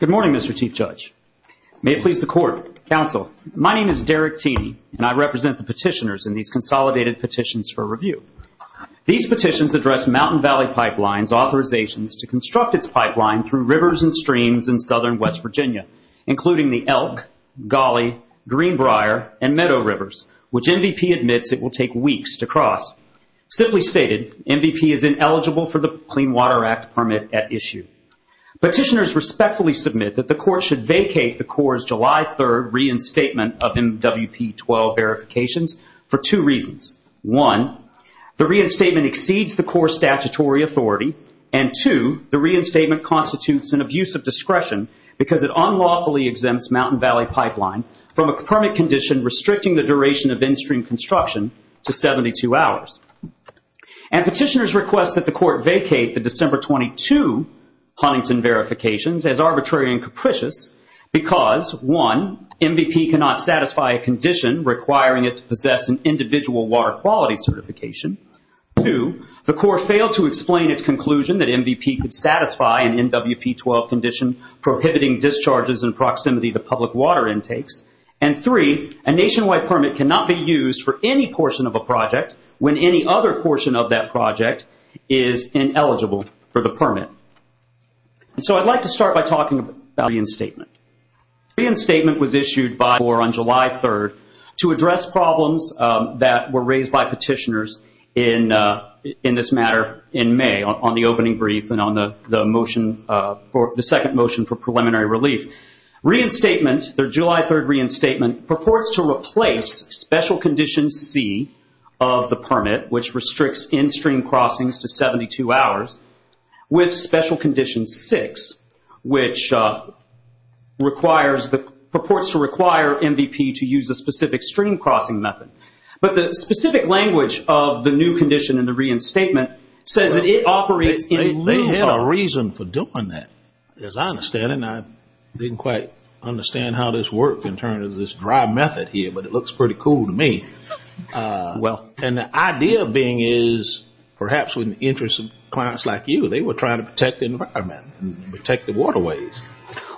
Good morning, Mr. Chief Judge. May it please the Court. Counsel, my name is Derek Teeney, and I represent the petitioners in these consolidated petitions for review. These petitions address Mountain Valley Pipeline's authorizations to construct its pipeline through rivers and streams in southern West Virginia, including the Elk, Gawley, Greenbrier, and Meadow Rivers, which MVP admits it will take weeks to cross. Simply stated, MVP is ineligible for the Clean Water Act permit at issue. Petitioners respectfully submit that the Court should vacate the Corps' July 3 reinstatement of MWP-12 verifications for two reasons. One, the reinstatement exceeds the Corps' statutory authority, and two, the reinstatement constitutes an abuse of discretion because it unlawfully exempts Mountain Valley Pipeline from a permit condition restricting the duration of in-stream construction to 72 hours. And petitioners request that the Court vacate the December 22 Huntington verifications as arbitrary and capricious because, one, MVP cannot satisfy a condition requiring it to possess an individual water quality certification. Two, the Corps failed to explain its conclusion that MVP could satisfy an MWP-12 condition prohibiting discharges in proximity to public water intakes. And three, a nationwide permit cannot be used for any portion of a project when any other portion of that project is ineligible for the permit. And so I'd like to start by talking about the reinstatement. The reinstatement was issued by the Corps on July 3rd to address problems that were raised by petitioners in this matter in May on the opening brief and on the second motion for preliminary relief. Reinstatement, their July 3rd reinstatement, purports to replace special condition C of the permit, which restricts in-stream crossings to 72 hours, with special condition 6, which purports to require MVP to use a specific stream crossing method. But the specific language of the new condition in the reinstatement says that it operates in lieu of... They had a reason for doing that, as I understand it. And I didn't quite understand how this worked in terms of this dry method here, but it looks pretty cool to me. Well... And the idea being is, perhaps in the interest of clients like you, they were trying to protect the environment and protect the waterways.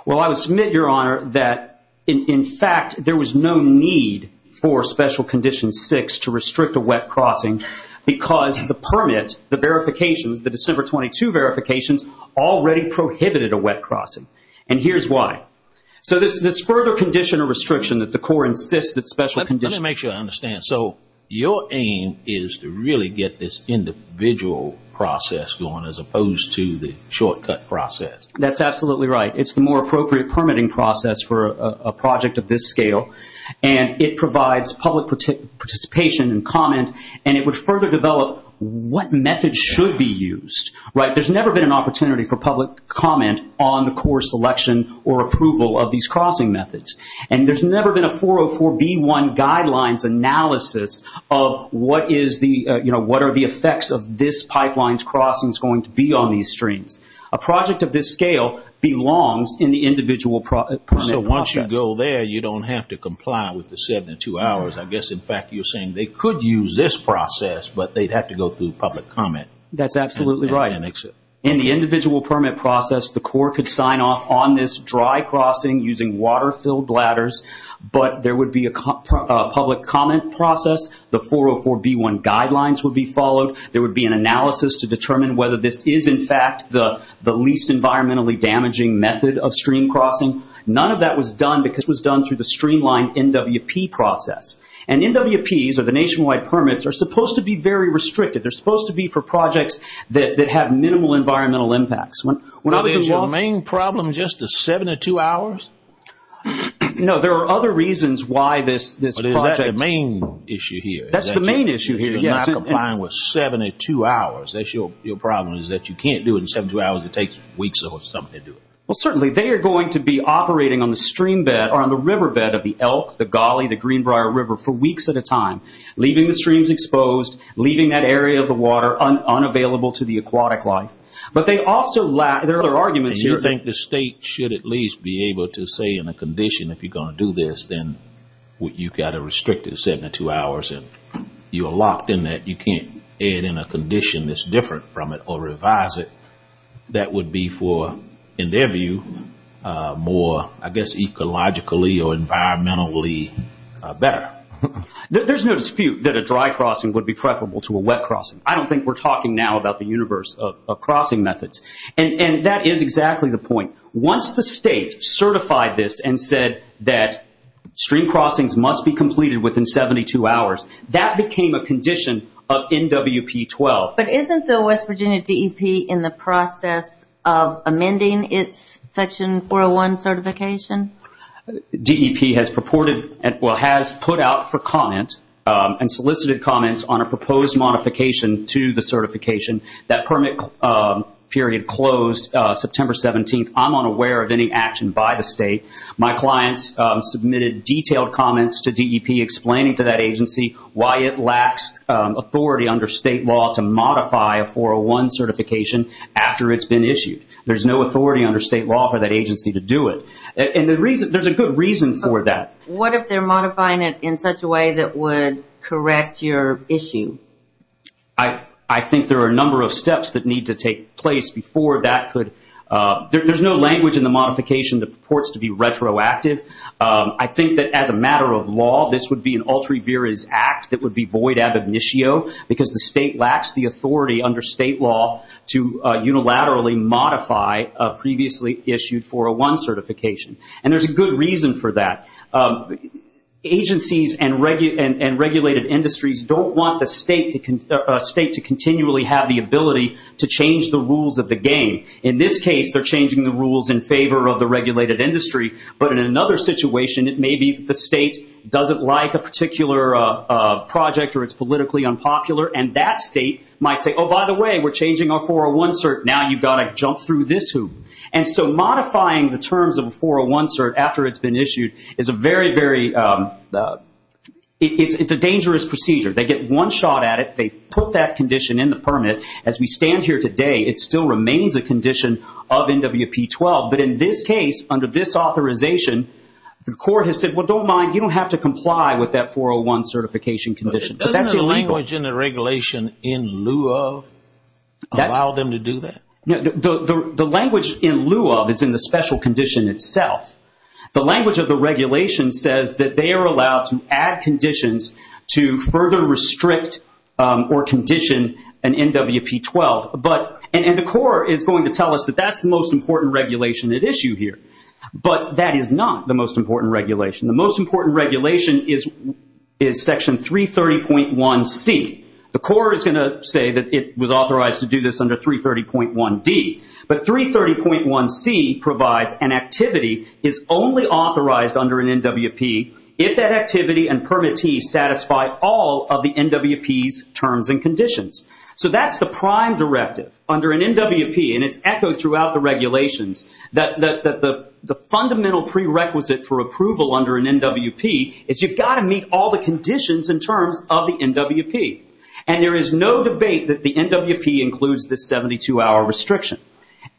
Well, I would submit, Your Honor, that in fact there was no need for special condition 6 to restrict a wet crossing because the permit, the verifications, the December 22 verifications, already prohibited a wet crossing. And here's why. So this further condition or restriction that the Corps insists that special condition... Let me make sure I understand. So your aim is to really get this individual process going as opposed to the shortcut process. That's absolutely right. It's the more appropriate permitting process for a project of this scale. And it provides public participation and comment, and it would further develop what methods should be used. There's never been an opportunity for public comment on the Corps selection or approval of these crossing methods. And there's never been a 404B1 guidelines analysis of what are the effects of this pipeline's crossings going to be on these streams. A project of this scale belongs in the individual permit process. So once you go there, you don't have to comply with the 72 hours. I guess, in fact, you're saying they could use this process, but they'd have to go through public comment. That's absolutely right. In the individual permit process, the Corps could sign off on this dry crossing using water-filled bladders, but there would be a public comment process. The 404B1 guidelines would be followed. There would be an analysis to determine whether this is, in fact, the least environmentally damaging method of stream crossing. None of that was done because it was done through the streamlined NWP process. And NWPs, or the nationwide permits, are supposed to be very restricted. They're supposed to be for projects that have minimal environmental impacts. Is your main problem just the 72 hours? No, there are other reasons why this project… Is that the main issue here? That's the main issue here, yes. If you're not complying with 72 hours, your problem is that you can't do it in 72 hours. It takes weeks or something to do it. Well, certainly. They are going to be operating on the stream bed or on the river bed of the Elk, the Gully, the Greenbrier River for weeks at a time, leaving the streams exposed, leaving that area of the water unavailable to the aquatic life. But there are other arguments here. And you think the state should at least be able to say in a condition, if you're going to do this, then you've got a restricted 72 hours and you're locked in that. You can't add in a condition that's different from it or revise it. That would be for, in their view, more, I guess, ecologically or environmentally better. There's no dispute that a dry crossing would be preferable to a wet crossing. I don't think we're talking now about the universe of crossing methods. And that is exactly the point. Once the state certified this and said that stream crossings must be completed within 72 hours, that became a condition of NWP-12. But isn't the West Virginia DEP in the process of amending its Section 401 certification? DEP has put out for comment and solicited comments on a proposed modification to the certification. That permit period closed September 17th. I'm unaware of any action by the state. My clients submitted detailed comments to DEP explaining to that agency why it lacks authority under state law to modify a 401 certification after it's been issued. There's no authority under state law for that agency to do it. And there's a good reason for that. What if they're modifying it in such a way that would correct your issue? I think there are a number of steps that need to take place before that could. There's no language in the modification that purports to be retroactive. I think that as a matter of law, this would be an ultra-virus act that would be void ad initio because the state lacks the authority under state law to unilaterally modify a previously issued 401 certification. And there's a good reason for that. Agencies and regulated industries don't want the state to continually have the ability to change the rules of the game. In this case, they're changing the rules in favor of the regulated industry. But in another situation, it may be that the state doesn't like a particular project or it's politically unpopular. And that state might say, oh, by the way, we're changing our 401 cert. Now you've got to jump through this hoop. And so modifying the terms of a 401 cert after it's been issued is a very, very, it's a dangerous procedure. They get one shot at it. They put that condition in the permit. As we stand here today, it still remains a condition of NWP-12. But in this case, under this authorization, the court has said, well, don't mind, you don't have to comply with that 401 certification condition. But that's illegal. Doesn't the language in the regulation in lieu of allow them to do that? The language in lieu of is in the special condition itself. The language of the regulation says that they are allowed to add conditions to further restrict or condition an NWP-12. And the court is going to tell us that that's the most important regulation at issue here. But that is not the most important regulation. The most important regulation is Section 330.1c. The court is going to say that it was authorized to do this under 330.1d. But 330.1c provides an activity is only authorized under an NWP if that activity and permittee satisfy all of the NWP's terms and conditions. So that's the prime directive. Under an NWP, and it's echoed throughout the regulations, that the fundamental prerequisite for approval under an NWP is you've got to meet all the conditions and terms of the NWP. And there is no debate that the NWP includes the 72-hour restriction.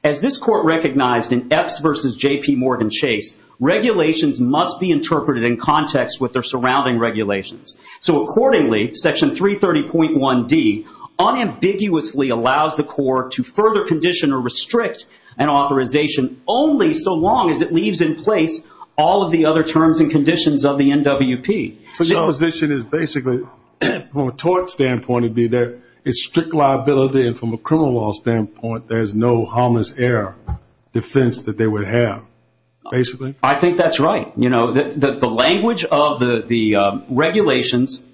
As this court recognized in Epps v. J.P. Morgan Chase, regulations must be interpreted in context with their surrounding regulations. So accordingly, Section 330.1d unambiguously allows the court to further condition or restrict an authorization only so long as it leaves in place all of the other terms and conditions of the NWP. So the position is basically from a tort standpoint it would be that it's strict liability and from a criminal law standpoint there's no harmless air defense that they would have, basically? I think that's right. The language of the regulations,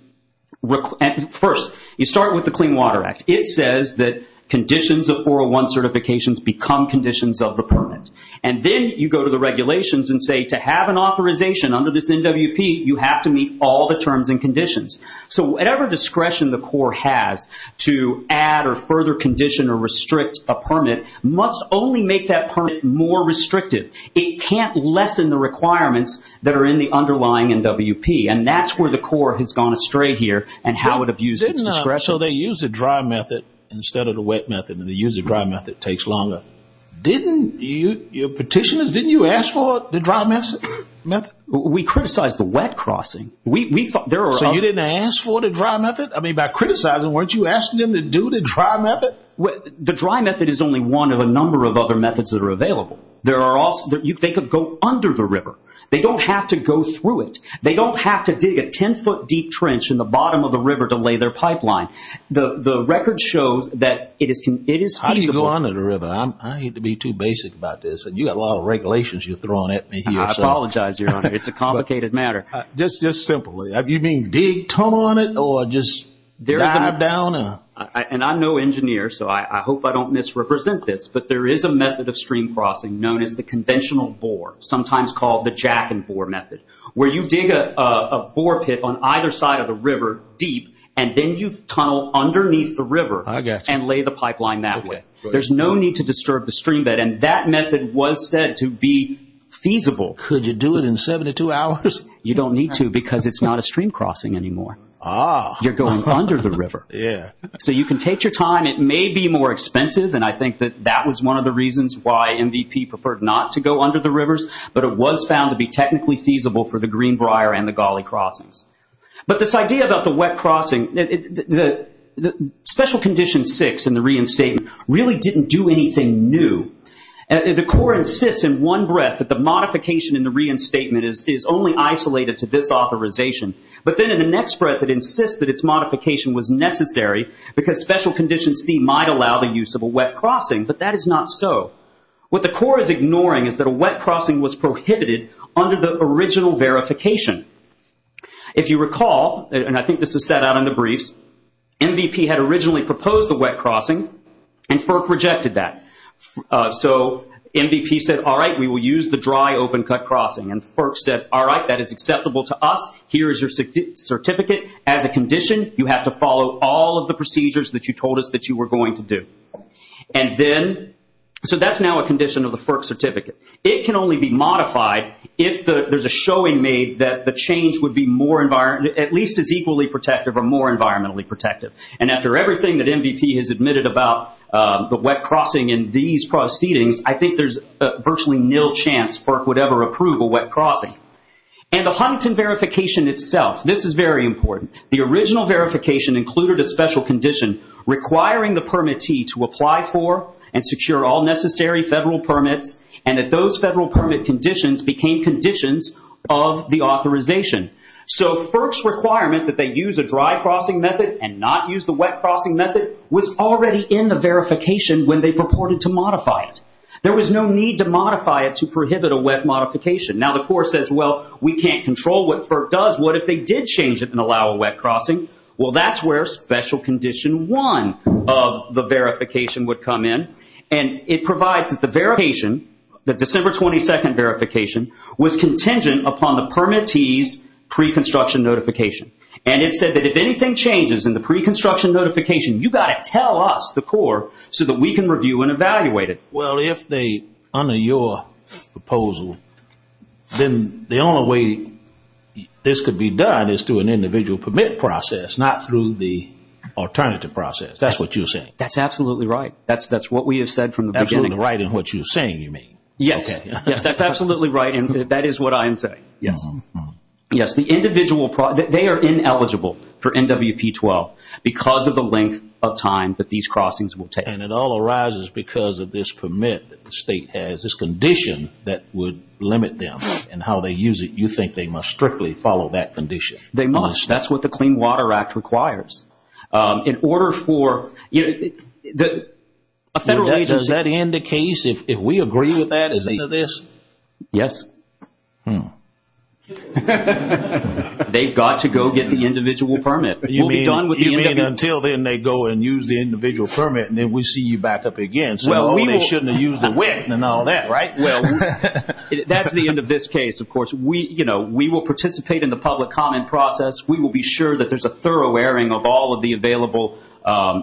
first you start with the Clean Water Act. It says that conditions of 401 certifications become conditions of the permit. And then you go to the regulations and say to have an authorization under this NWP you have to meet all the terms and conditions. So whatever discretion the court has to add or further condition or restrict a permit must only make that permit more restrictive. It can't lessen the requirements that are in the underlying NWP. And that's where the court has gone astray here and how it abuses discretion. So they use the dry method instead of the wet method and the use of the dry method takes longer. Didn't your petitioners, didn't you ask for the dry method? We criticized the wet crossing. So you didn't ask for the dry method? I mean by criticizing weren't you asking them to do the dry method? The dry method is only one of a number of other methods that are available. They could go under the river. They don't have to go through it. They don't have to dig a 10-foot deep trench in the bottom of the river to lay their pipeline. The record shows that it is feasible. How do you go under the river? I hate to be too basic about this and you've got a lot of regulations you're throwing at me here. I apologize, Your Honor. It's a complicated matter. Just simply. You mean dig tunnel on it or just dive down? And I'm no engineer so I hope I don't misrepresent this, but there is a method of stream crossing known as the conventional bore, sometimes called the jack and bore method where you dig a bore pit on either side of the river deep and then you tunnel underneath the river and lay the pipeline that way. There's no need to disturb the stream bed and that method was said to be feasible. Could you do it in 72 hours? You don't need to because it's not a stream crossing anymore. You're going under the river. Yeah. So you can take your time. It may be more expensive, and I think that that was one of the reasons why MVP preferred not to go under the rivers, but it was found to be technically feasible for the Greenbrier and the Gawley crossings. But this idea about the wet crossing, Special Condition 6 in the reinstatement really didn't do anything new. The court insists in one breath that the modification in the reinstatement is only isolated to this authorization, but then in the next breath it insists that its modification was necessary because Special Condition C might allow the use of a wet crossing, but that is not so. What the court is ignoring is that a wet crossing was prohibited under the original verification. If you recall, and I think this is set out in the briefs, MVP had originally proposed the wet crossing and FERC rejected that. So MVP said, all right, we will use the dry open cut crossing, and FERC said, all right, that is acceptable to us. Here is your certificate. As a condition, you have to follow all of the procedures that you told us that you were going to do. And then, so that's now a condition of the FERC certificate. It can only be modified if there's a showing made that the change would be more, at least as equally protective or more environmentally protective. And after everything that MVP has admitted about the wet crossing in these proceedings, I think there's a virtually nil chance FERC would ever approve a wet crossing. And the Huntington verification itself, this is very important. The original verification included a special condition requiring the permittee to apply for and secure all necessary federal permits, and that those federal permit conditions became conditions of the authorization. So FERC's requirement that they use a dry crossing method and not use the wet crossing method was already in the verification when they purported to modify it. There was no need to modify it to prohibit a wet modification. Now, the Corps says, well, we can't control what FERC does. What if they did change it and allow a wet crossing? Well, that's where special condition one of the verification would come in. And it provides that the verification, the December 22nd verification, was contingent upon the permittee's pre-construction notification. And it said that if anything changes in the pre-construction notification, you've got to tell us, the Corps, so that we can review and evaluate it. Well, if they honor your proposal, then the only way this could be done is through an individual permit process, not through the alternative process. That's what you're saying. That's absolutely right. That's what we have said from the beginning. Absolutely right in what you're saying, you mean. Yes. Okay. Yes, that's absolutely right, and that is what I am saying. Yes. Yes, the individual permit, they are ineligible for NWP-12 because of the length of time that these crossings will take. And it all arises because of this permit that the state has, this condition that would limit them and how they use it. You think they must strictly follow that condition? They must. That's what the Clean Water Act requires. In order for a federal agency- Does that indicate, if we agree with that, is it this? Yes. Hmm. They've got to go get the individual permit. We'll be done with the NWP- And then we'll see you back up again. So they shouldn't have used the WIC and all that, right? Well, that's the end of this case, of course. We will participate in the public comment process. We will be sure that there's a thorough airing of all of the available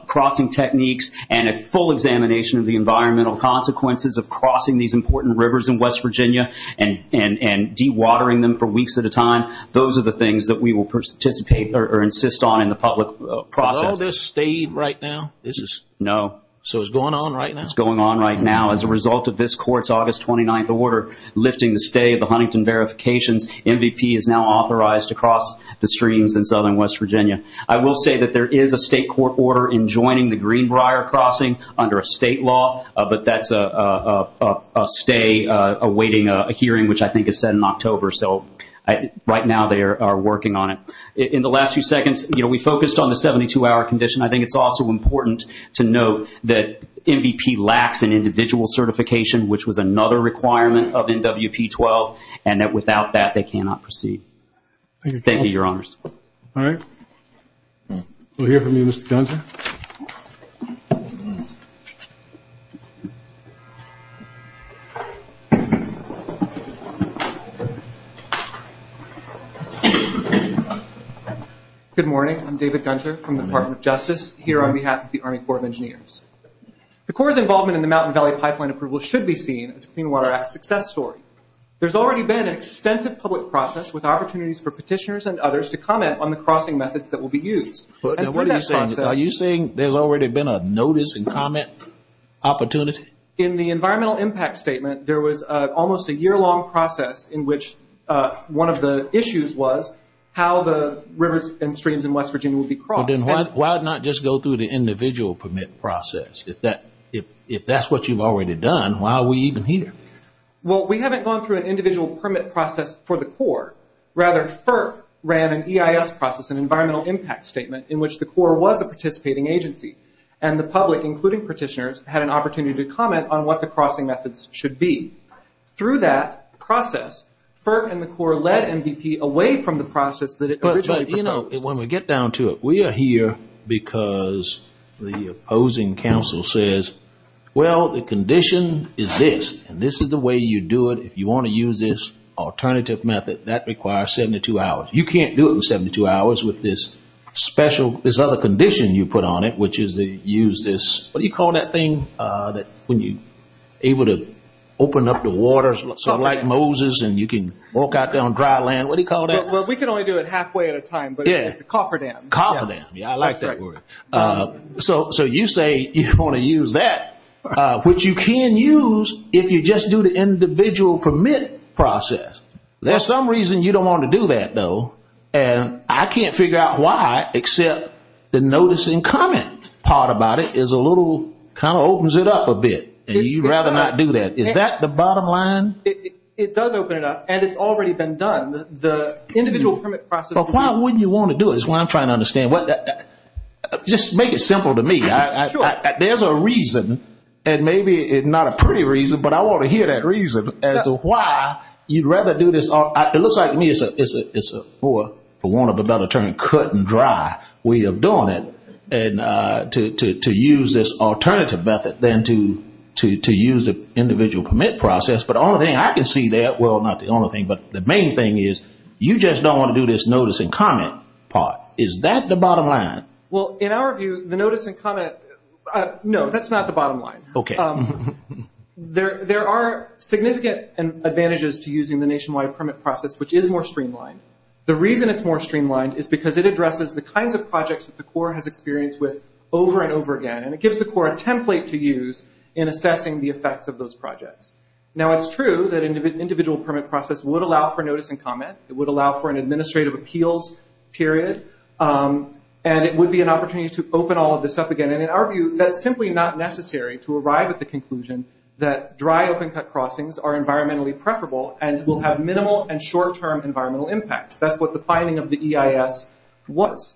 crossing techniques and a full examination of the environmental consequences of crossing these important rivers in West Virginia and dewatering them for weeks at a time. Those are the things that we will participate or insist on in the public process. Is all this stayed right now? No. So it's going on right now? It's going on right now. As a result of this court's August 29th order lifting the stay of the Huntington Verifications, NWP is now authorized to cross the streams in southern West Virginia. I will say that there is a state court order enjoining the Greenbrier crossing under a state law, but that's a stay awaiting a hearing, which I think is set in October. So right now they are working on it. In the last few seconds, we focused on the 72-hour condition. I think it's also important to note that MVP lacks an individual certification, which was another requirement of NWP-12, and that without that, they cannot proceed. Thank you, Your Honors. All right. We'll hear from you, Mr. Johnson. Good morning. I'm David Gunter from the Department of Justice here on behalf of the Army Corps of Engineers. The Corps' involvement in the Mountain Valley Pipeline approval should be seen as a Clean Water Act success story. There's already been an extensive public process with opportunities for petitioners and others to comment on the crossing methods that will be used. Are you saying there's already been a notice and comment opportunity? In the environmental impact statement, there was almost a year-long process in which one of the issues was how the rivers and streams in West Virginia would be crossed. Then why not just go through the individual permit process? If that's what you've already done, why are we even here? Well, we haven't gone through an individual permit process for the Corps. Rather, FERC ran an EIS process, an environmental impact statement, in which the Corps was a participating agency, and the public, including petitioners, had an opportunity to comment on what the crossing methods should be. Through that process, FERC and the Corps led MVP away from the process that originally proposed. When we get down to it, we are here because the opposing council says, well, the condition is this, and this is the way you do it. If you want to use this alternative method, that requires 72 hours. You can't do it in 72 hours with this special condition you put on it, which is to use this, what do you call that thing, when you're able to open up the waters like Moses and you can walk out there on dry land, what do you call that? Well, we can only do it halfway at a time, but it's a cofferdam. Cofferdam, I like that word. So you say you want to use that, which you can use if you just do the individual permit process. There's some reason you don't want to do that, though, and I can't figure out why except the notice and comment part about it is a little kind of opens it up a bit, and you'd rather not do that. Is that the bottom line? It does open it up, and it's already been done. The individual permit process. But why wouldn't you want to do it is what I'm trying to understand. Just make it simple to me. There's a reason, and maybe not a pretty reason, but I want to hear that reason as to why you'd rather do this. It looks like to me it's more, for want of a better term, cut and dry. We are doing it to use this alternative method than to use the individual permit process, but the only thing I can see there, well, not the only thing, but the main thing is you just don't want to do this notice and comment part. Is that the bottom line? Well, in our view, the notice and comment, no, that's not the bottom line. Okay. There are significant advantages to using the nationwide permit process, which is more streamlined. The reason it's more streamlined is because it addresses the kinds of projects that the Corps has experienced with over and over again, and it gives the Corps a template to use in assessing the effects of those projects. Now, it's true that an individual permit process would allow for notice and comment. It would allow for an administrative appeals period, and it would be an opportunity to open all of this up again. And in our view, that's simply not necessary to arrive at the conclusion that dry open cut crossings are environmentally preferable and will have minimal and short-term environmental impacts. That's what the finding of the EIS was.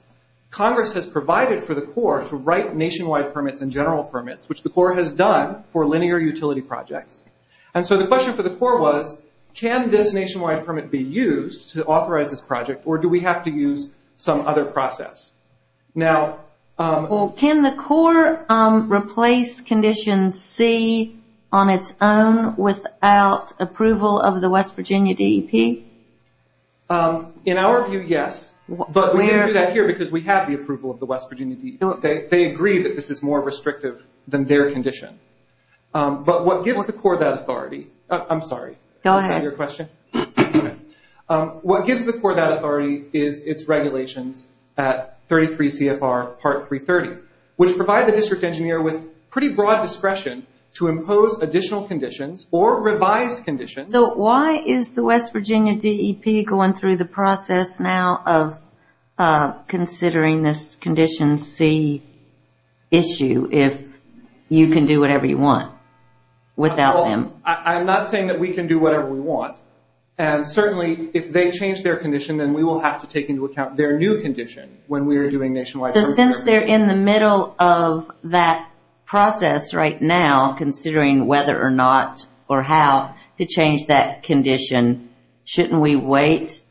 Congress has provided for the Corps to write nationwide permits and general permits, which the Corps has done for linear utility projects. And so the question for the Corps was, can this nationwide permit be used to authorize this project, or do we have to use some other process? Can the Corps replace Condition C on its own without approval of the West Virginia DEP? In our view, yes. But we didn't do that here because we have the approval of the West Virginia DEP. They agree that this is more restrictive than their condition. But what gives the Corps that authority? I'm sorry. Go ahead. Your question? Okay. What gives the Corps that authority is its regulations at 33 CFR Part 330, which provide the district engineer with pretty broad discretion to impose additional conditions or revised conditions. So why is the West Virginia DEP going through the process now of considering this Condition C issue if you can do whatever you want without them? I'm not saying that we can do whatever we want. And certainly if they change their condition, then we will have to take into account their new condition when we are doing nationwide permits. So since they're in the middle of that process right now, considering whether or not or how to change that condition, shouldn't we wait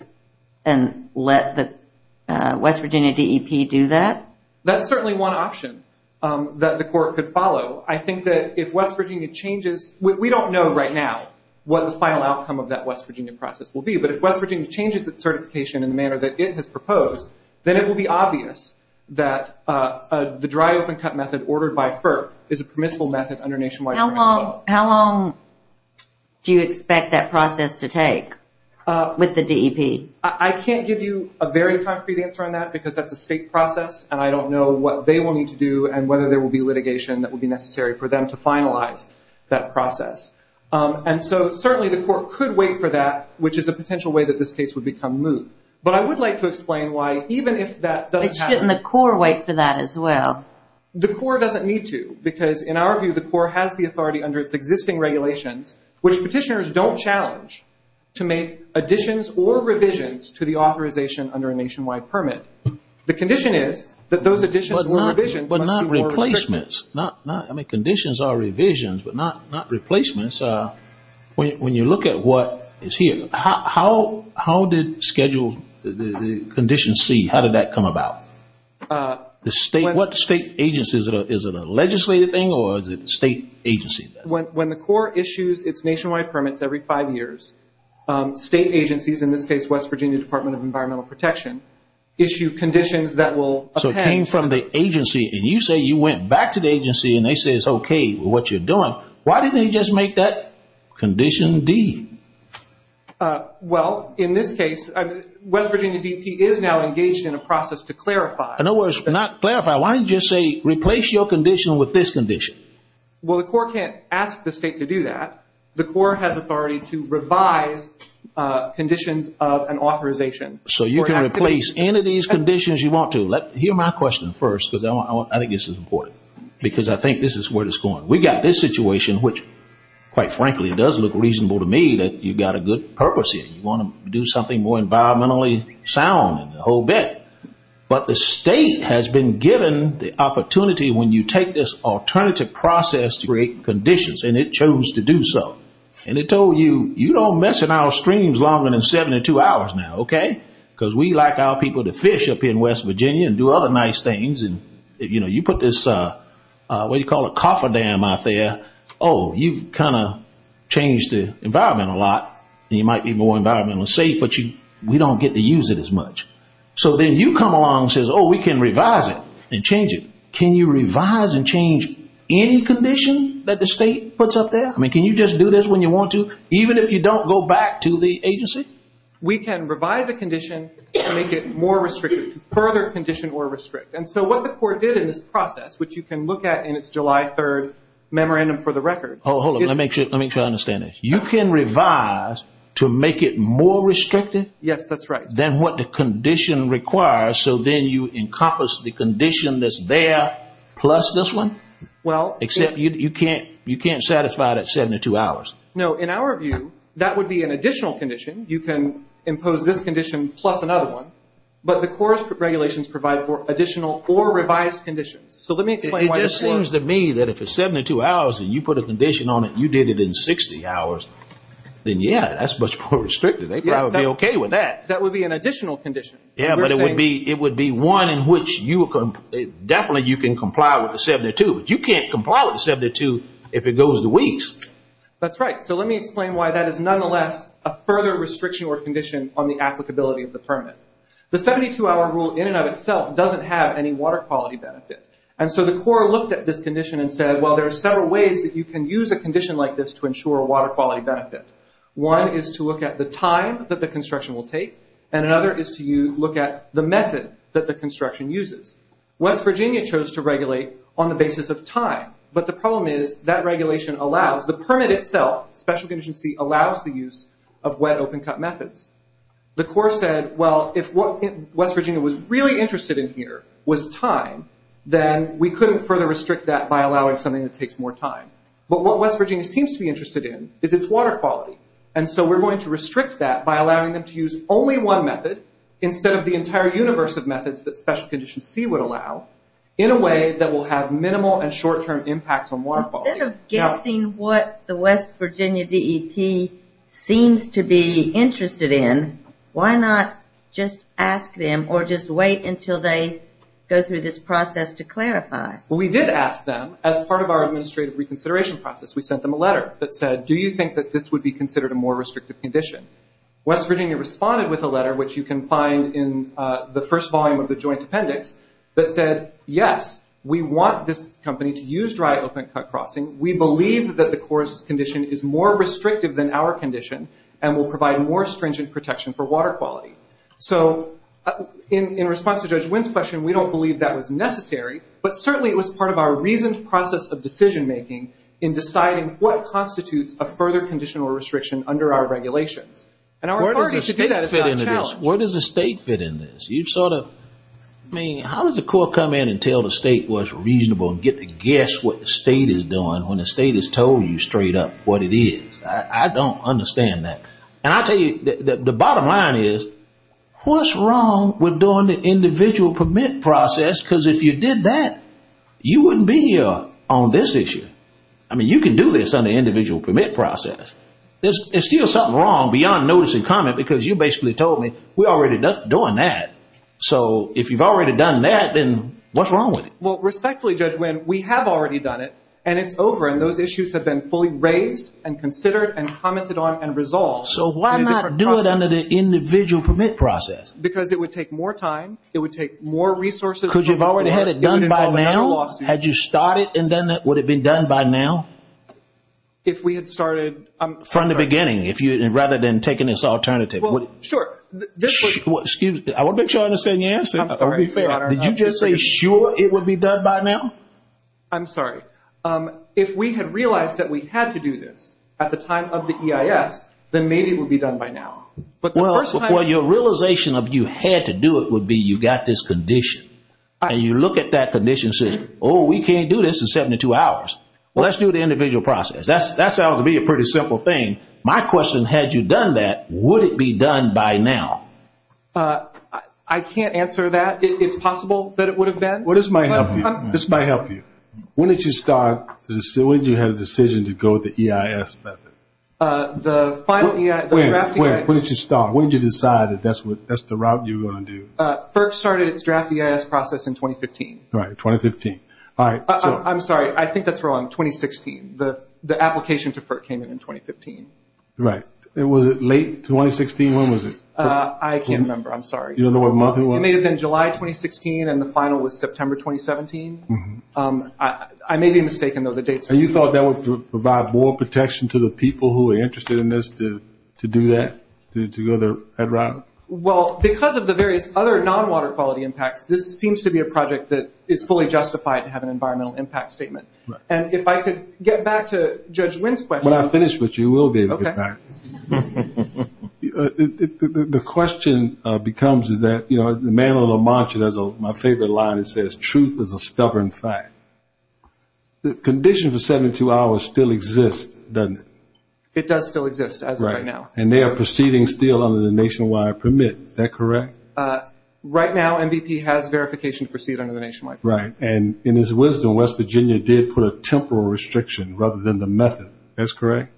and let the West Virginia DEP do that? That's certainly one option that the Corps could follow. I think that if West Virginia changes, we don't know right now what the final outcome of that West Virginia process will be. But if West Virginia changes its certification in the manner that it has proposed, then it will be obvious that the dry open cut method ordered by FERP is a permissible method under nationwide permits. How long do you expect that process to take with the DEP? I can't give you a very concrete answer on that because that's a state process and I don't know what they will need to do and whether there will be litigation that will be necessary for them to finalize that process. And so certainly the Corps could wait for that, which is a potential way that this case would become moot. But I would like to explain why even if that doesn't happen. Shouldn't the Corps wait for that as well? The Corps doesn't need to. Because in our view, the Corps has the authority under its existing regulations, which petitioners don't challenge to make additions or revisions to the authorization under a nationwide permit. The condition is that those additions or revisions must be more restrictive. But not replacements. Conditions are revisions, but not replacements. When you look at what is here, how did Schedule C, how did that come about? What state agency? Is it a legislative thing or is it a state agency? When the Corps issues its nationwide permits every five years, state agencies, in this case West Virginia Department of Environmental Protection, issue conditions that will append. So it came from the agency and you say you went back to the agency and they say it's okay with what you're doing. Why didn't they just make that Condition D? Well, in this case, West Virginia DEP is now engaged in a process to clarify. In other words, not clarify. Why didn't you just say replace your condition with this condition? Well, the Corps can't ask the state to do that. The Corps has authority to revise conditions of an authorization. So you can replace any of these conditions you want to. Hear my question first, because I think this is important, because I think this is where it's going. We've got this situation, which, quite frankly, does look reasonable to me that you've got a good purpose here. You want to do something more environmentally sound and the whole bit. But the state has been given the opportunity, when you take this alternative process to create conditions, and it chose to do so. And it told you, you don't mess in our streams longer than 72 hours now, okay? Because we like our people to fish up here in West Virginia and do other nice things. And, you know, you put this, what do you call it, cofferdam out there, oh, you've kind of changed the environment a lot, and you might be more environmentally safe, but we don't get to use it as much. So then you come along and say, oh, we can revise it and change it. Can you revise and change any condition that the state puts up there? I mean, can you just do this when you want to, even if you don't go back to the agency? We can revise a condition and make it more restrictive, further condition or restrict. And so what the court did in this process, which you can look at in its July 3 memorandum for the record. Hold on, let me make sure I understand this. You can revise to make it more restrictive? Yes, that's right. Then what the condition requires, so then you encompass the condition that's there plus this one? Well, Except you can't satisfy that 72 hours. No, in our view, that would be an additional condition. You can impose this condition plus another one. But the court's regulations provide for additional or revised conditions. So let me explain why this works. It just seems to me that if it's 72 hours and you put a condition on it, you did it in 60 hours, then, yeah, that's much more restrictive. They'd probably be okay with that. That would be an additional condition. Yeah, but it would be one in which definitely you can comply with the 72. You can't comply with the 72 if it goes to weeks. That's right. So let me explain why that is nonetheless a further restriction or condition on the applicability of the permit. The 72-hour rule in and of itself doesn't have any water quality benefit. And so the court looked at this condition and said, well, there are several ways that you can use a condition like this to ensure water quality benefit. One is to look at the time that the construction will take, and another is to look at the method that the construction uses. West Virginia chose to regulate on the basis of time, but the problem is that regulation allows, the permit itself, special condition C, allows the use of wet open-cut methods. The court said, well, if what West Virginia was really interested in here was time, then we couldn't further restrict that by allowing something that takes more time. But what West Virginia seems to be interested in is its water quality. And so we're going to restrict that by allowing them to use only one method, instead of the entire universe of methods that special condition C would allow, in a way that will have minimal and short-term impacts on water quality. Instead of guessing what the West Virginia DEP seems to be interested in, why not just ask them or just wait until they go through this process to clarify? Well, we did ask them. As part of our administrative reconsideration process, we sent them a letter that said, do you think that this would be considered a more restrictive condition? West Virginia responded with a letter, which you can find in the first volume of the joint appendix, that said, yes, we want this company to use dry open-cut crossing. We believe that the court's condition is more restrictive than our condition and will provide more stringent protection for water quality. So in response to Judge Wynn's question, we don't believe that was necessary, but certainly it was part of our reasoned process of decision-making in deciding what constitutes a further conditional restriction under our regulations. And our authority to do that is now challenged. Where does the state fit in this? You've sort of – I mean, how does the court come in and tell the state what's reasonable and get to guess what the state is doing when the state has told you straight up what it is? I don't understand that. And I'll tell you, the bottom line is, what's wrong with doing the individual permit process? Because if you did that, you wouldn't be here on this issue. I mean, you can do this under the individual permit process. There's still something wrong beyond notice and comment because you basically told me we're already doing that. So if you've already done that, then what's wrong with it? Well, respectfully, Judge Wynn, we have already done it, and it's over, and those issues have been fully raised and considered and commented on and resolved. So why not do it under the individual permit process? Because it would take more time. It would take more resources. Could you have already had it done by now? Had you started and done that, would it have been done by now? If we had started. From the beginning, rather than taking this alternative. Sure. Excuse me. I want to make sure I understand your answer. I'm sorry, Your Honor. Did you just say sure it would be done by now? I'm sorry. If we had realized that we had to do this at the time of the EIS, then maybe it would be done by now. Well, your realization of you had to do it would be you got this condition, and you look at that condition and say, oh, we can't do this in 72 hours. Well, let's do the individual process. That sounds to me a pretty simple thing. My question, had you done that, would it be done by now? I can't answer that. It's possible that it would have been. This might help you. When did you have the decision to go with the EIS method? When did you start? When did you decide that that's the route you were going to do? FERC started its draft EIS process in 2015. Right, 2015. I'm sorry. I think that's wrong. 2016. The application to FERC came in in 2015. Right. Was it late 2016? When was it? I can't remember. I'm sorry. You don't know what month it was? It may have been July 2016, and the final was September 2017. I may be mistaken, though. You thought that would provide more protection to the people who are interested in this to do that? To go that route? Well, because of the various other non-water quality impacts, this seems to be a project that is fully justified to have an environmental impact statement. Right. And if I could get back to Judge Wynn's question. When I finish with you, you will be able to get back. Okay. The question becomes is that, you know, the man on La Mancha has my favorite line that says, truth is a stubborn fact. The condition for 72 hours still exists, doesn't it? It does still exist as of right now. And they are proceeding still under the nationwide permit. Is that correct? Right now, MVP has verification to proceed under the nationwide permit. Right. And in his wisdom, West Virginia did put a temporal restriction rather than the method. That's correct?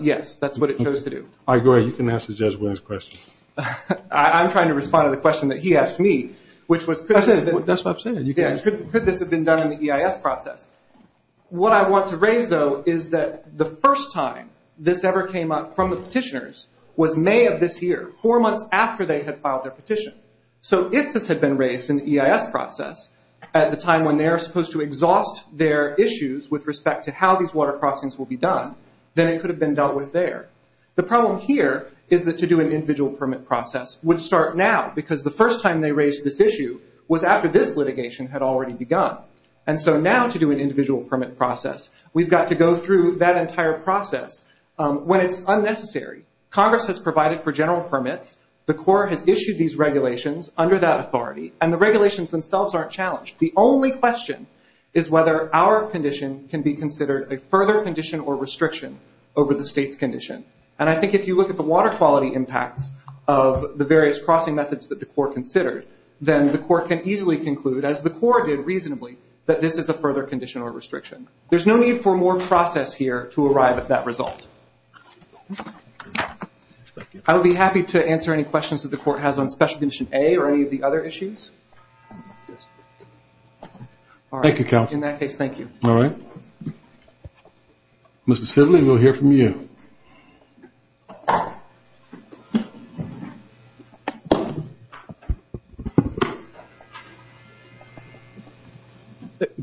Yes. That's what it chose to do. All right. Go ahead. You can ask the Judge Wynn's question. I'm trying to respond to the question that he asked me, which was could this have been done in the EIS process? What I want to raise, though, is that the first time this ever came up from the petitioners was May of this year, four months after they had filed their petition. So if this had been raised in the EIS process at the time when they are supposed to exhaust their issues with respect to how these water crossings will be done, then it could have been dealt with there. The problem here is that to do an individual permit process would start now, because the first time they raised this issue was after this litigation had already begun. And so now to do an individual permit process, we've got to go through that entire process when it's unnecessary. Congress has provided for general permits. The Corps has issued these regulations under that authority, and the regulations themselves aren't challenged. The only question is whether our condition can be considered a further condition or restriction over the state's condition. And I think if you look at the water quality impacts of the various crossing methods that the Corps considered, then the Corps can easily conclude, as the Corps did reasonably, that this is a further condition or restriction. There's no need for more process here to arrive at that result. I would be happy to answer any questions that the Corps has on Special Condition A or any of the other issues. Thank you, Counsel. In that case, thank you. All right. Mr. Sidley, we'll hear from you.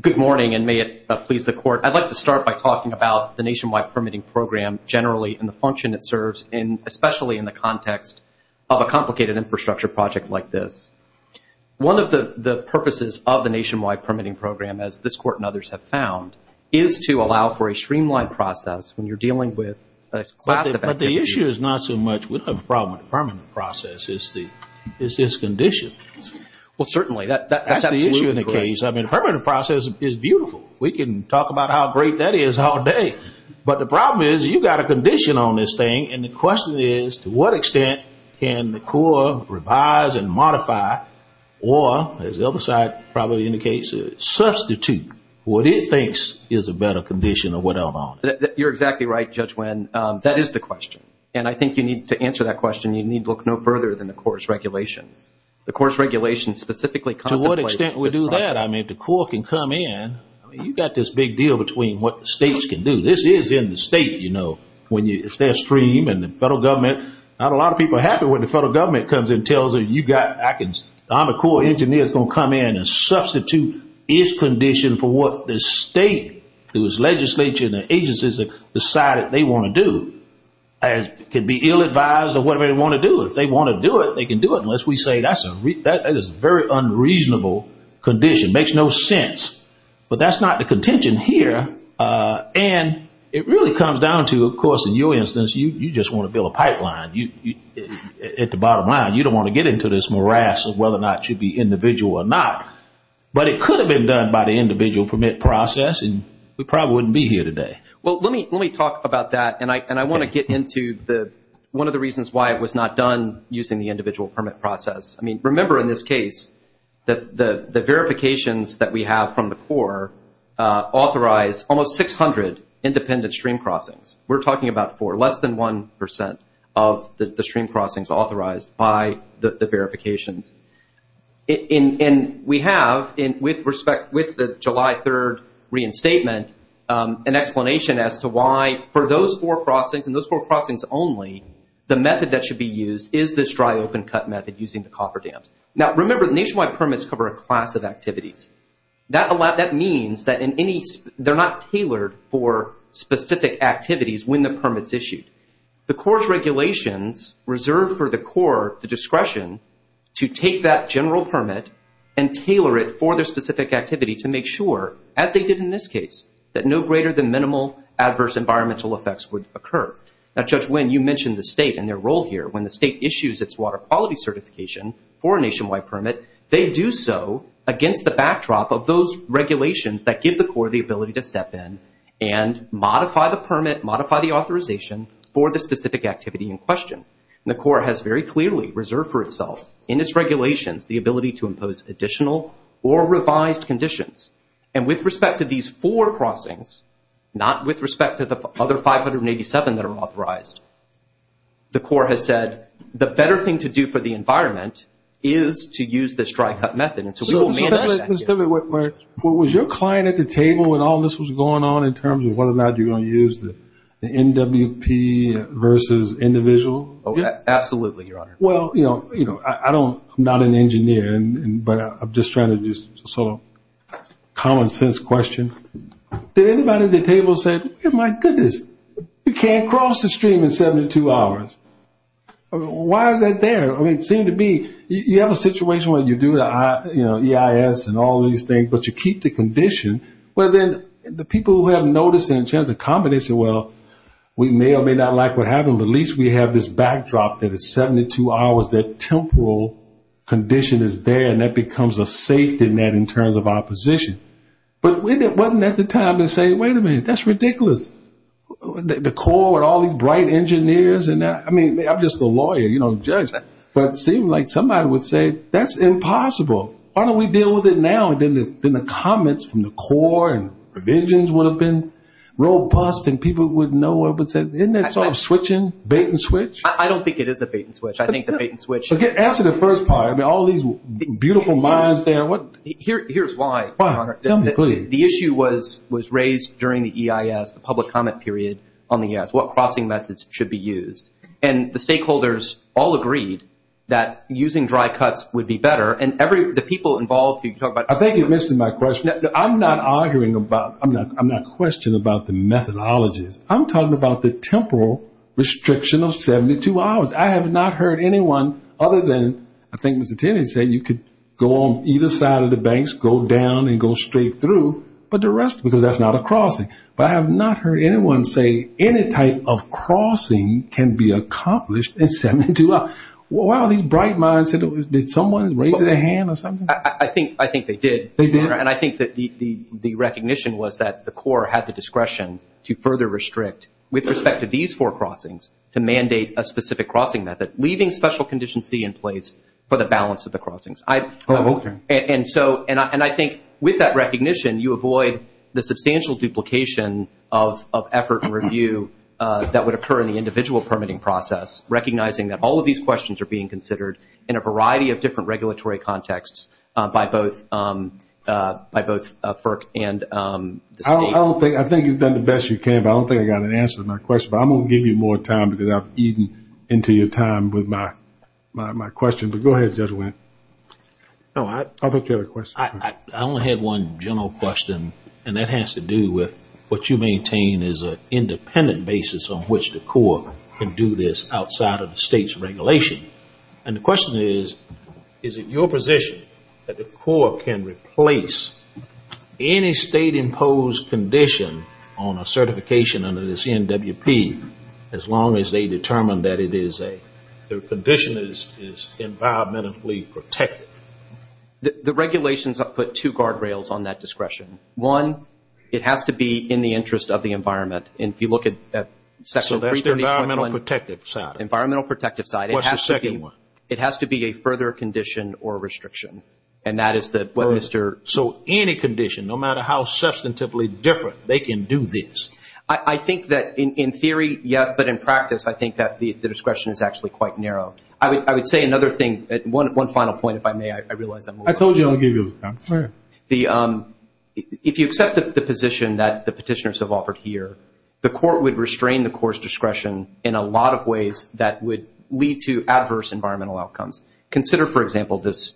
Good morning, and may it please the Court. I'd like to start by talking about the Nationwide Permitting Program generally and the function it serves, especially in the context of a complicated infrastructure project like this. One of the purposes of the Nationwide Permitting Program, as this Court and others have found, is to allow for a streamlined process when you're dealing with classified activities. But the issue is not so much with a permanent process. It's this condition. Well, certainly. That's absolutely correct. That's the issue in the case. I mean, a permanent process is beautiful. We can talk about how great that is all day. But the problem is you've got a condition on this thing, and the question is to what extent can the Corps revise and modify or, as the other side probably indicates, substitute what it thinks is a better condition or whatever on it? You're exactly right, Judge Wynn. That is the question. And I think to answer that question, you need to look no further than the Corps' regulations. The Corps' regulations specifically contemplate the process. To what extent would we do that? I mean, if the Corps can come in, you've got this big deal between what the States can do. This is in the State, you know. If they're streamed and the federal government, not a lot of people are happy when the federal government comes and tells them I'm a Corps engineer that's going to come in and substitute his condition for what the State, whose legislature and their agencies have decided they want to do. It could be ill-advised or whatever they want to do. If they want to do it, they can do it, unless we say that's a very unreasonable condition. It makes no sense. But that's not the contention here. And it really comes down to, of course, in your instance, you just want to build a pipeline. At the bottom line, you don't want to get into this morass of whether or not it should be individual or not. But it could have been done by the individual permit process, and we probably wouldn't be here today. Well, let me talk about that, and I want to get into one of the reasons why it was not done using the individual permit process. I mean, remember in this case that the verifications that we have from the Corps authorize almost 600 independent stream crossings. We're talking about four, less than 1% of the stream crossings authorized by the verifications. And we have, with respect, with the July 3 reinstatement, an explanation as to why for those four crossings and those four crossings only, the method that should be used is this dry open cut method using the copper dams. Now, remember, the nationwide permits cover a class of activities. That means that they're not tailored for specific activities when the permit's issued. The Corps' regulations reserve for the Corps the discretion to take that general permit and tailor it for their specific activity to make sure, as they did in this case, that no greater than minimal adverse environmental effects would occur. Now, Judge Nguyen, you mentioned the state and their role here. When the state issues its water quality certification for a nationwide permit, they do so against the backdrop of those regulations that give the Corps the ability to step in and modify the permit, modify the authorization for the specific activity in question. And the Corps has very clearly reserved for itself in its regulations the ability to impose additional or revised conditions. And with respect to these four crossings, not with respect to the other 587 that are authorized, the Corps has said the better thing to do for the environment is to use this dry cut method. And so we will manage that. Was your client at the table when all this was going on in terms of whether or not you're going to use the NWP versus individual? Absolutely, Your Honor. Well, you know, I'm not an engineer, but I'm just trying to just sort of common sense question. Did anybody at the table say, you know, my goodness, you can't cross the stream in 72 hours? Why is that there? I mean, it seemed to be you have a situation where you do EIS and all these things, but you keep the condition. Well, then the people who have noticed in terms of combination, well, we may or may not like what happened, but at least we have this backdrop that is 72 hours, that temporal condition is there, and that becomes a safety net in terms of our position. But wasn't that the time to say, wait a minute, that's ridiculous? The Corps and all these bright engineers, I mean, I'm just a lawyer, you know, a judge. But it seemed like somebody would say, that's impossible. Why don't we deal with it now? And then the comments from the Corps and provisions would have been robust, and people would know what was said. Isn't that sort of switching, bait-and-switch? I don't think it is a bait-and-switch. I think the bait-and-switch. Answer the first part. I mean, all these beautiful minds there. Here's why, Your Honor. Tell me, please. The issue was raised during the EIS, the public comment period on the EIS, what crossing methods should be used. And the stakeholders all agreed that using dry cuts would be better, and the people involved could talk about it. I think you're missing my question. I'm not arguing about, I'm not questioning about the methodologies. I'm talking about the temporal restriction of 72 hours. I have not heard anyone other than, I think Mr. Tennant said, you could go on either side of the banks, go down and go straight through, but the rest, because that's not a crossing. But I have not heard anyone say any type of crossing can be accomplished in 72 hours. Why are these bright minds? Did someone raise their hand or something? I think they did. They did. And I think that the recognition was that the Corps had the discretion to further restrict, with respect to these four crossings, to mandate a specific crossing method, leaving special condition C in place for the balance of the crossings. Oh, okay. And so, and I think with that recognition, you avoid the substantial duplication of effort and review that would occur in the individual permitting process, recognizing that all of these questions are being by both FERC and the state. I don't think, I think you've done the best you can, but I don't think I got an answer to my question. But I'm going to give you more time because I've eaten into your time with my question. But go ahead, Judge Wendt. No, I. I thought you had a question. I only had one general question, and that has to do with what you maintain is an independent basis on which the Corps can do this outside of the state's regulation. And the question is, is it your position that the Corps can replace any state-imposed condition on a certification under the CNWP as long as they determine that it is a, the condition is environmentally protected? The regulations put two guardrails on that discretion. One, it has to be in the interest of the environment. And if you look at Section 3. So that's the environmental protective side. Environmental protective side. What's the second one? It has to be a further condition or restriction. And that is the. So any condition, no matter how substantively different, they can do this. I think that in theory, yes. But in practice, I think that the discretion is actually quite narrow. I would say another thing, one final point, if I may. I realize I'm. I told you I would give you the time. Go ahead. If you accept the position that the petitioners have offered here, the Court would restrain the Corps' discretion in a lot of ways that would lead to adverse environmental outcomes. Consider, for example, this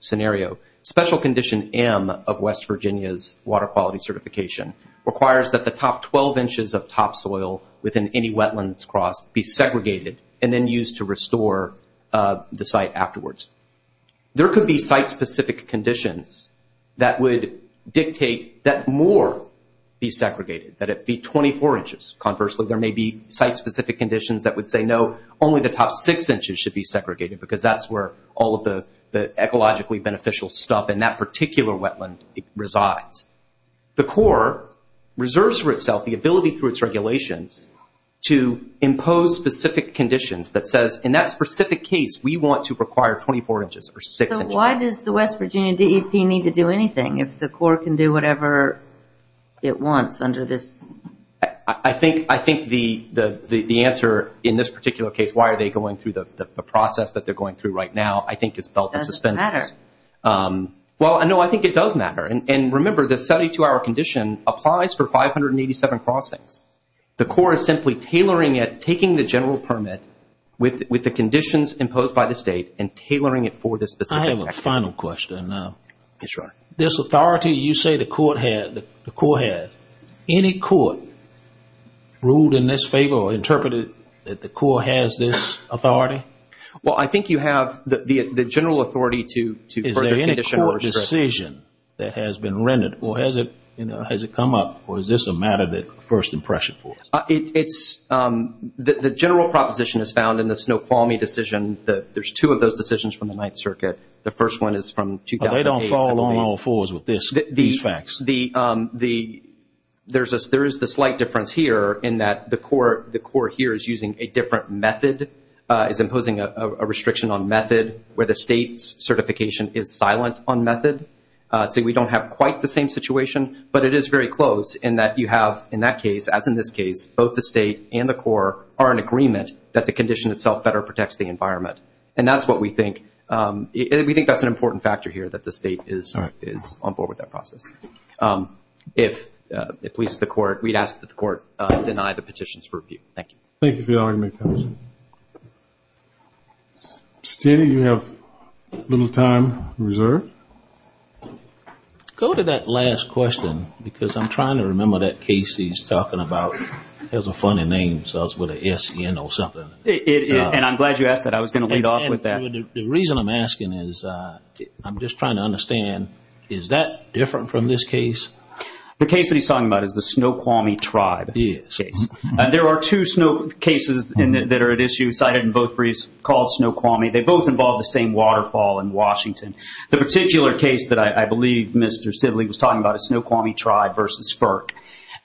scenario. Special Condition M of West Virginia's Water Quality Certification requires that the top 12 inches of topsoil within any wetlands cross be segregated and then used to restore the site afterwards. There could be site-specific conditions that would dictate that more be segregated, that it be 24 inches. Conversely, there may be site-specific conditions that would say, no, only the top six inches should be segregated because that's where all of the ecologically beneficial stuff in that particular wetland resides. The Corps reserves for itself the ability through its regulations to impose specific conditions that says, in that specific case, we want to require 24 inches or six inches. So why does the West Virginia DEP need to do anything if the Corps can do whatever it wants under this? I think the answer in this particular case, why are they going through the process that they're going through right now, I think is felt in suspense. It doesn't matter. Well, no, I think it does matter. And remember, the 72-hour condition applies for 587 crossings. The Corps is simply tailoring it, taking the general permit with the conditions imposed by the State and tailoring it for this specific action. I have a final question. Yes, Your Honor. This authority you say the Corps had, any court ruled in this favor or interpreted that the Corps has this authority? Well, I think you have the general authority to further condition or restriction. Is there any court decision that has been rendered or has it come up or is this a matter of first impression for us? The general proposition is found in the Snoqualmie decision. There's two of those decisions from the Ninth Circuit. The first one is from 2008. They don't fall on all fours with these facts. There is the slight difference here in that the Corps here is using a different method, is imposing a restriction on method where the State's certification is silent on method. So we don't have quite the same situation, but it is very close in that you have, in that case, as in this case, both the State and the Corps are in agreement that the condition itself better protects the environment. And that's what we think. We think that's an important factor here that the State is on board with that process. If it pleases the Court, we'd ask that the Court deny the petitions for review. Thank you. Thank you for your argument, Congressman. Mr. Cheney, you have a little time reserved. Go to that last question because I'm trying to remember that case he's talking about. It has a funny name. It's with a S-E-N or something. And I'm glad you asked that. I was going to lead off with that. The reason I'm asking is I'm just trying to understand, is that different from this case? The case that he's talking about is the Snoqualmie Tribe case. There are two cases that are at issue cited in both briefs called Snoqualmie. They both involve the same waterfall in Washington. The particular case that I believe Mr. Sidley was talking about is Snoqualmie Tribe versus FERC.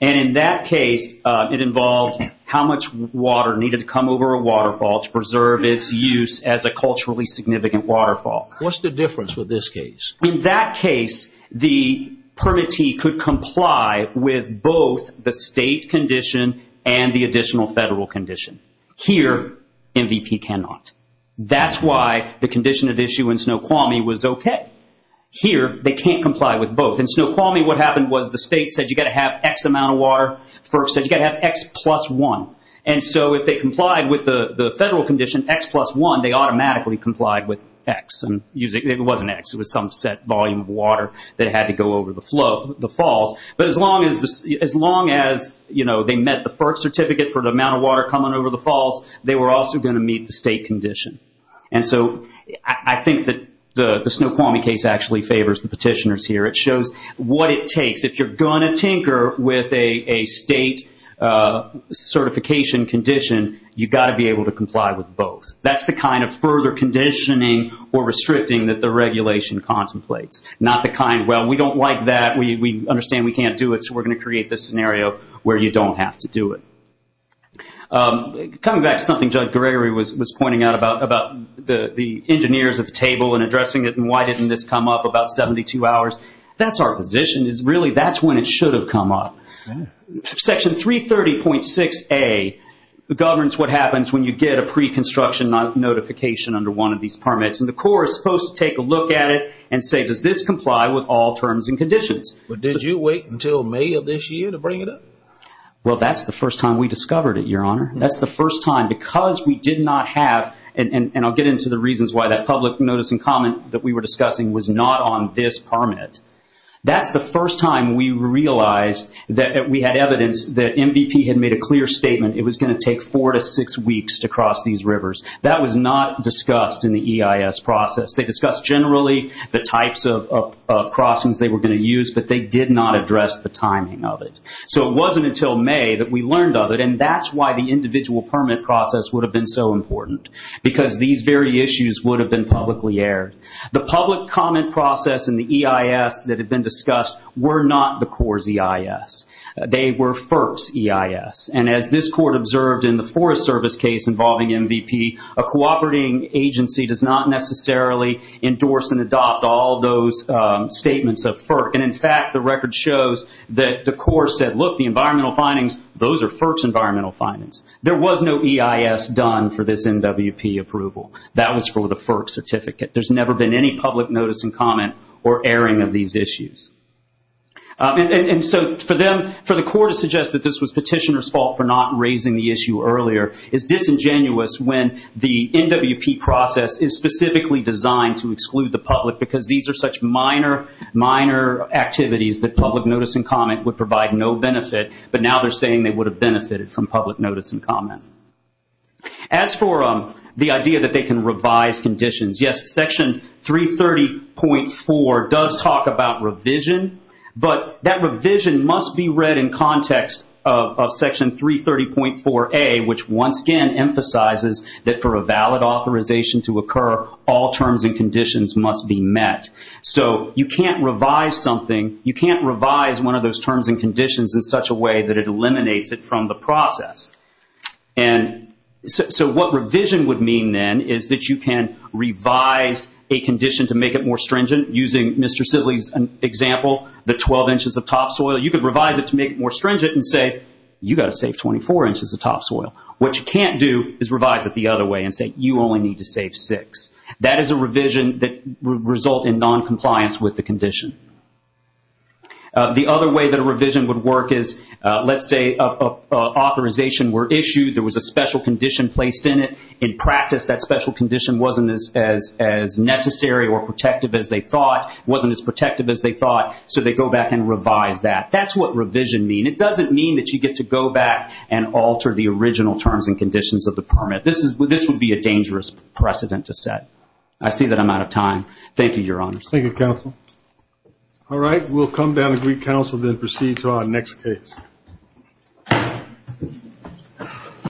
And in that case, it involved how much water needed to come over a waterfall to preserve its use as a culturally significant waterfall. What's the difference with this case? In that case, the permittee could comply with both the State condition and the additional federal condition. Here, MVP cannot. That's why the condition at issue in Snoqualmie was okay. Here, they can't comply with both. In Snoqualmie, what happened was the State said you've got to have X amount of water. FERC said you've got to have X plus one. And so if they complied with the federal condition, X plus one, they automatically complied with X. It wasn't X. It was some set volume of water that had to go over the falls. But as long as they met the FERC certificate for the amount of water coming over the falls, they were also going to meet the State condition. And so I think that the Snoqualmie case actually favors the petitioners here. It shows what it takes. If you're going to tinker with a State certification condition, you've got to be able to comply with both. That's the kind of further conditioning or restricting that the regulation contemplates. Not the kind, well, we don't like that. We understand we can't do it, so we're going to create this scenario where you don't have to do it. Coming back to something Judge Gregory was pointing out about the engineers at the table and addressing it That's our position. Really, that's when it should have come up. Section 330.6A governs what happens when you get a pre-construction notification under one of these permits. And the Corps is supposed to take a look at it and say, does this comply with all terms and conditions? But did you wait until May of this year to bring it up? Well, that's the first time we discovered it, Your Honor. That's the first time. Because we did not have, and I'll get into the reasons why that public notice and comment that we were discussing was not on this permit. That's the first time we realized that we had evidence that MVP had made a clear statement. It was going to take four to six weeks to cross these rivers. That was not discussed in the EIS process. They discussed generally the types of crossings they were going to use, but they did not address the timing of it. So it wasn't until May that we learned of it, and that's why the individual permit process would have been so important. Because these very issues would have been publicly aired. The public comment process and the EIS that had been discussed were not the Corps' EIS. They were FERC's EIS. And as this Court observed in the Forest Service case involving MVP, a cooperating agency does not necessarily endorse and adopt all those statements of FERC. And, in fact, the record shows that the Corps said, look, the environmental findings, those are FERC's environmental findings. There was no EIS done for this NWP approval. That was for the FERC certificate. There's never been any public notice and comment or airing of these issues. And so for the Corps to suggest that this was Petitioner's fault for not raising the issue earlier is disingenuous when the NWP process is specifically designed to exclude the public because these are such minor, minor activities that public notice and comment would provide no benefit, but now they're saying they would have benefited from public notice and comment. As for the idea that they can revise conditions, yes, Section 330.4 does talk about revision, but that revision must be read in context of Section 330.4a, which once again emphasizes that for a valid authorization to occur, all terms and conditions must be met. So you can't revise one of those terms and conditions in such a way that it eliminates it from the process. And so what revision would mean then is that you can revise a condition to make it more stringent, using Mr. Sidley's example, the 12 inches of topsoil. You could revise it to make it more stringent and say, you've got to save 24 inches of topsoil. What you can't do is revise it the other way and say, you only need to save six. That is a revision that would result in noncompliance with the condition. The other way that a revision would work is, let's say authorization were issued, there was a special condition placed in it. In practice, that special condition wasn't as necessary or protective as they thought, so they go back and revise that. That's what revision means. It doesn't mean that you get to go back and alter the original terms and conditions of the permit. This would be a dangerous precedent to set. I see that I'm out of time. Thank you, Your Honors. Thank you, Counsel. All right, we'll come down to Greek Counsel, then proceed to our next case.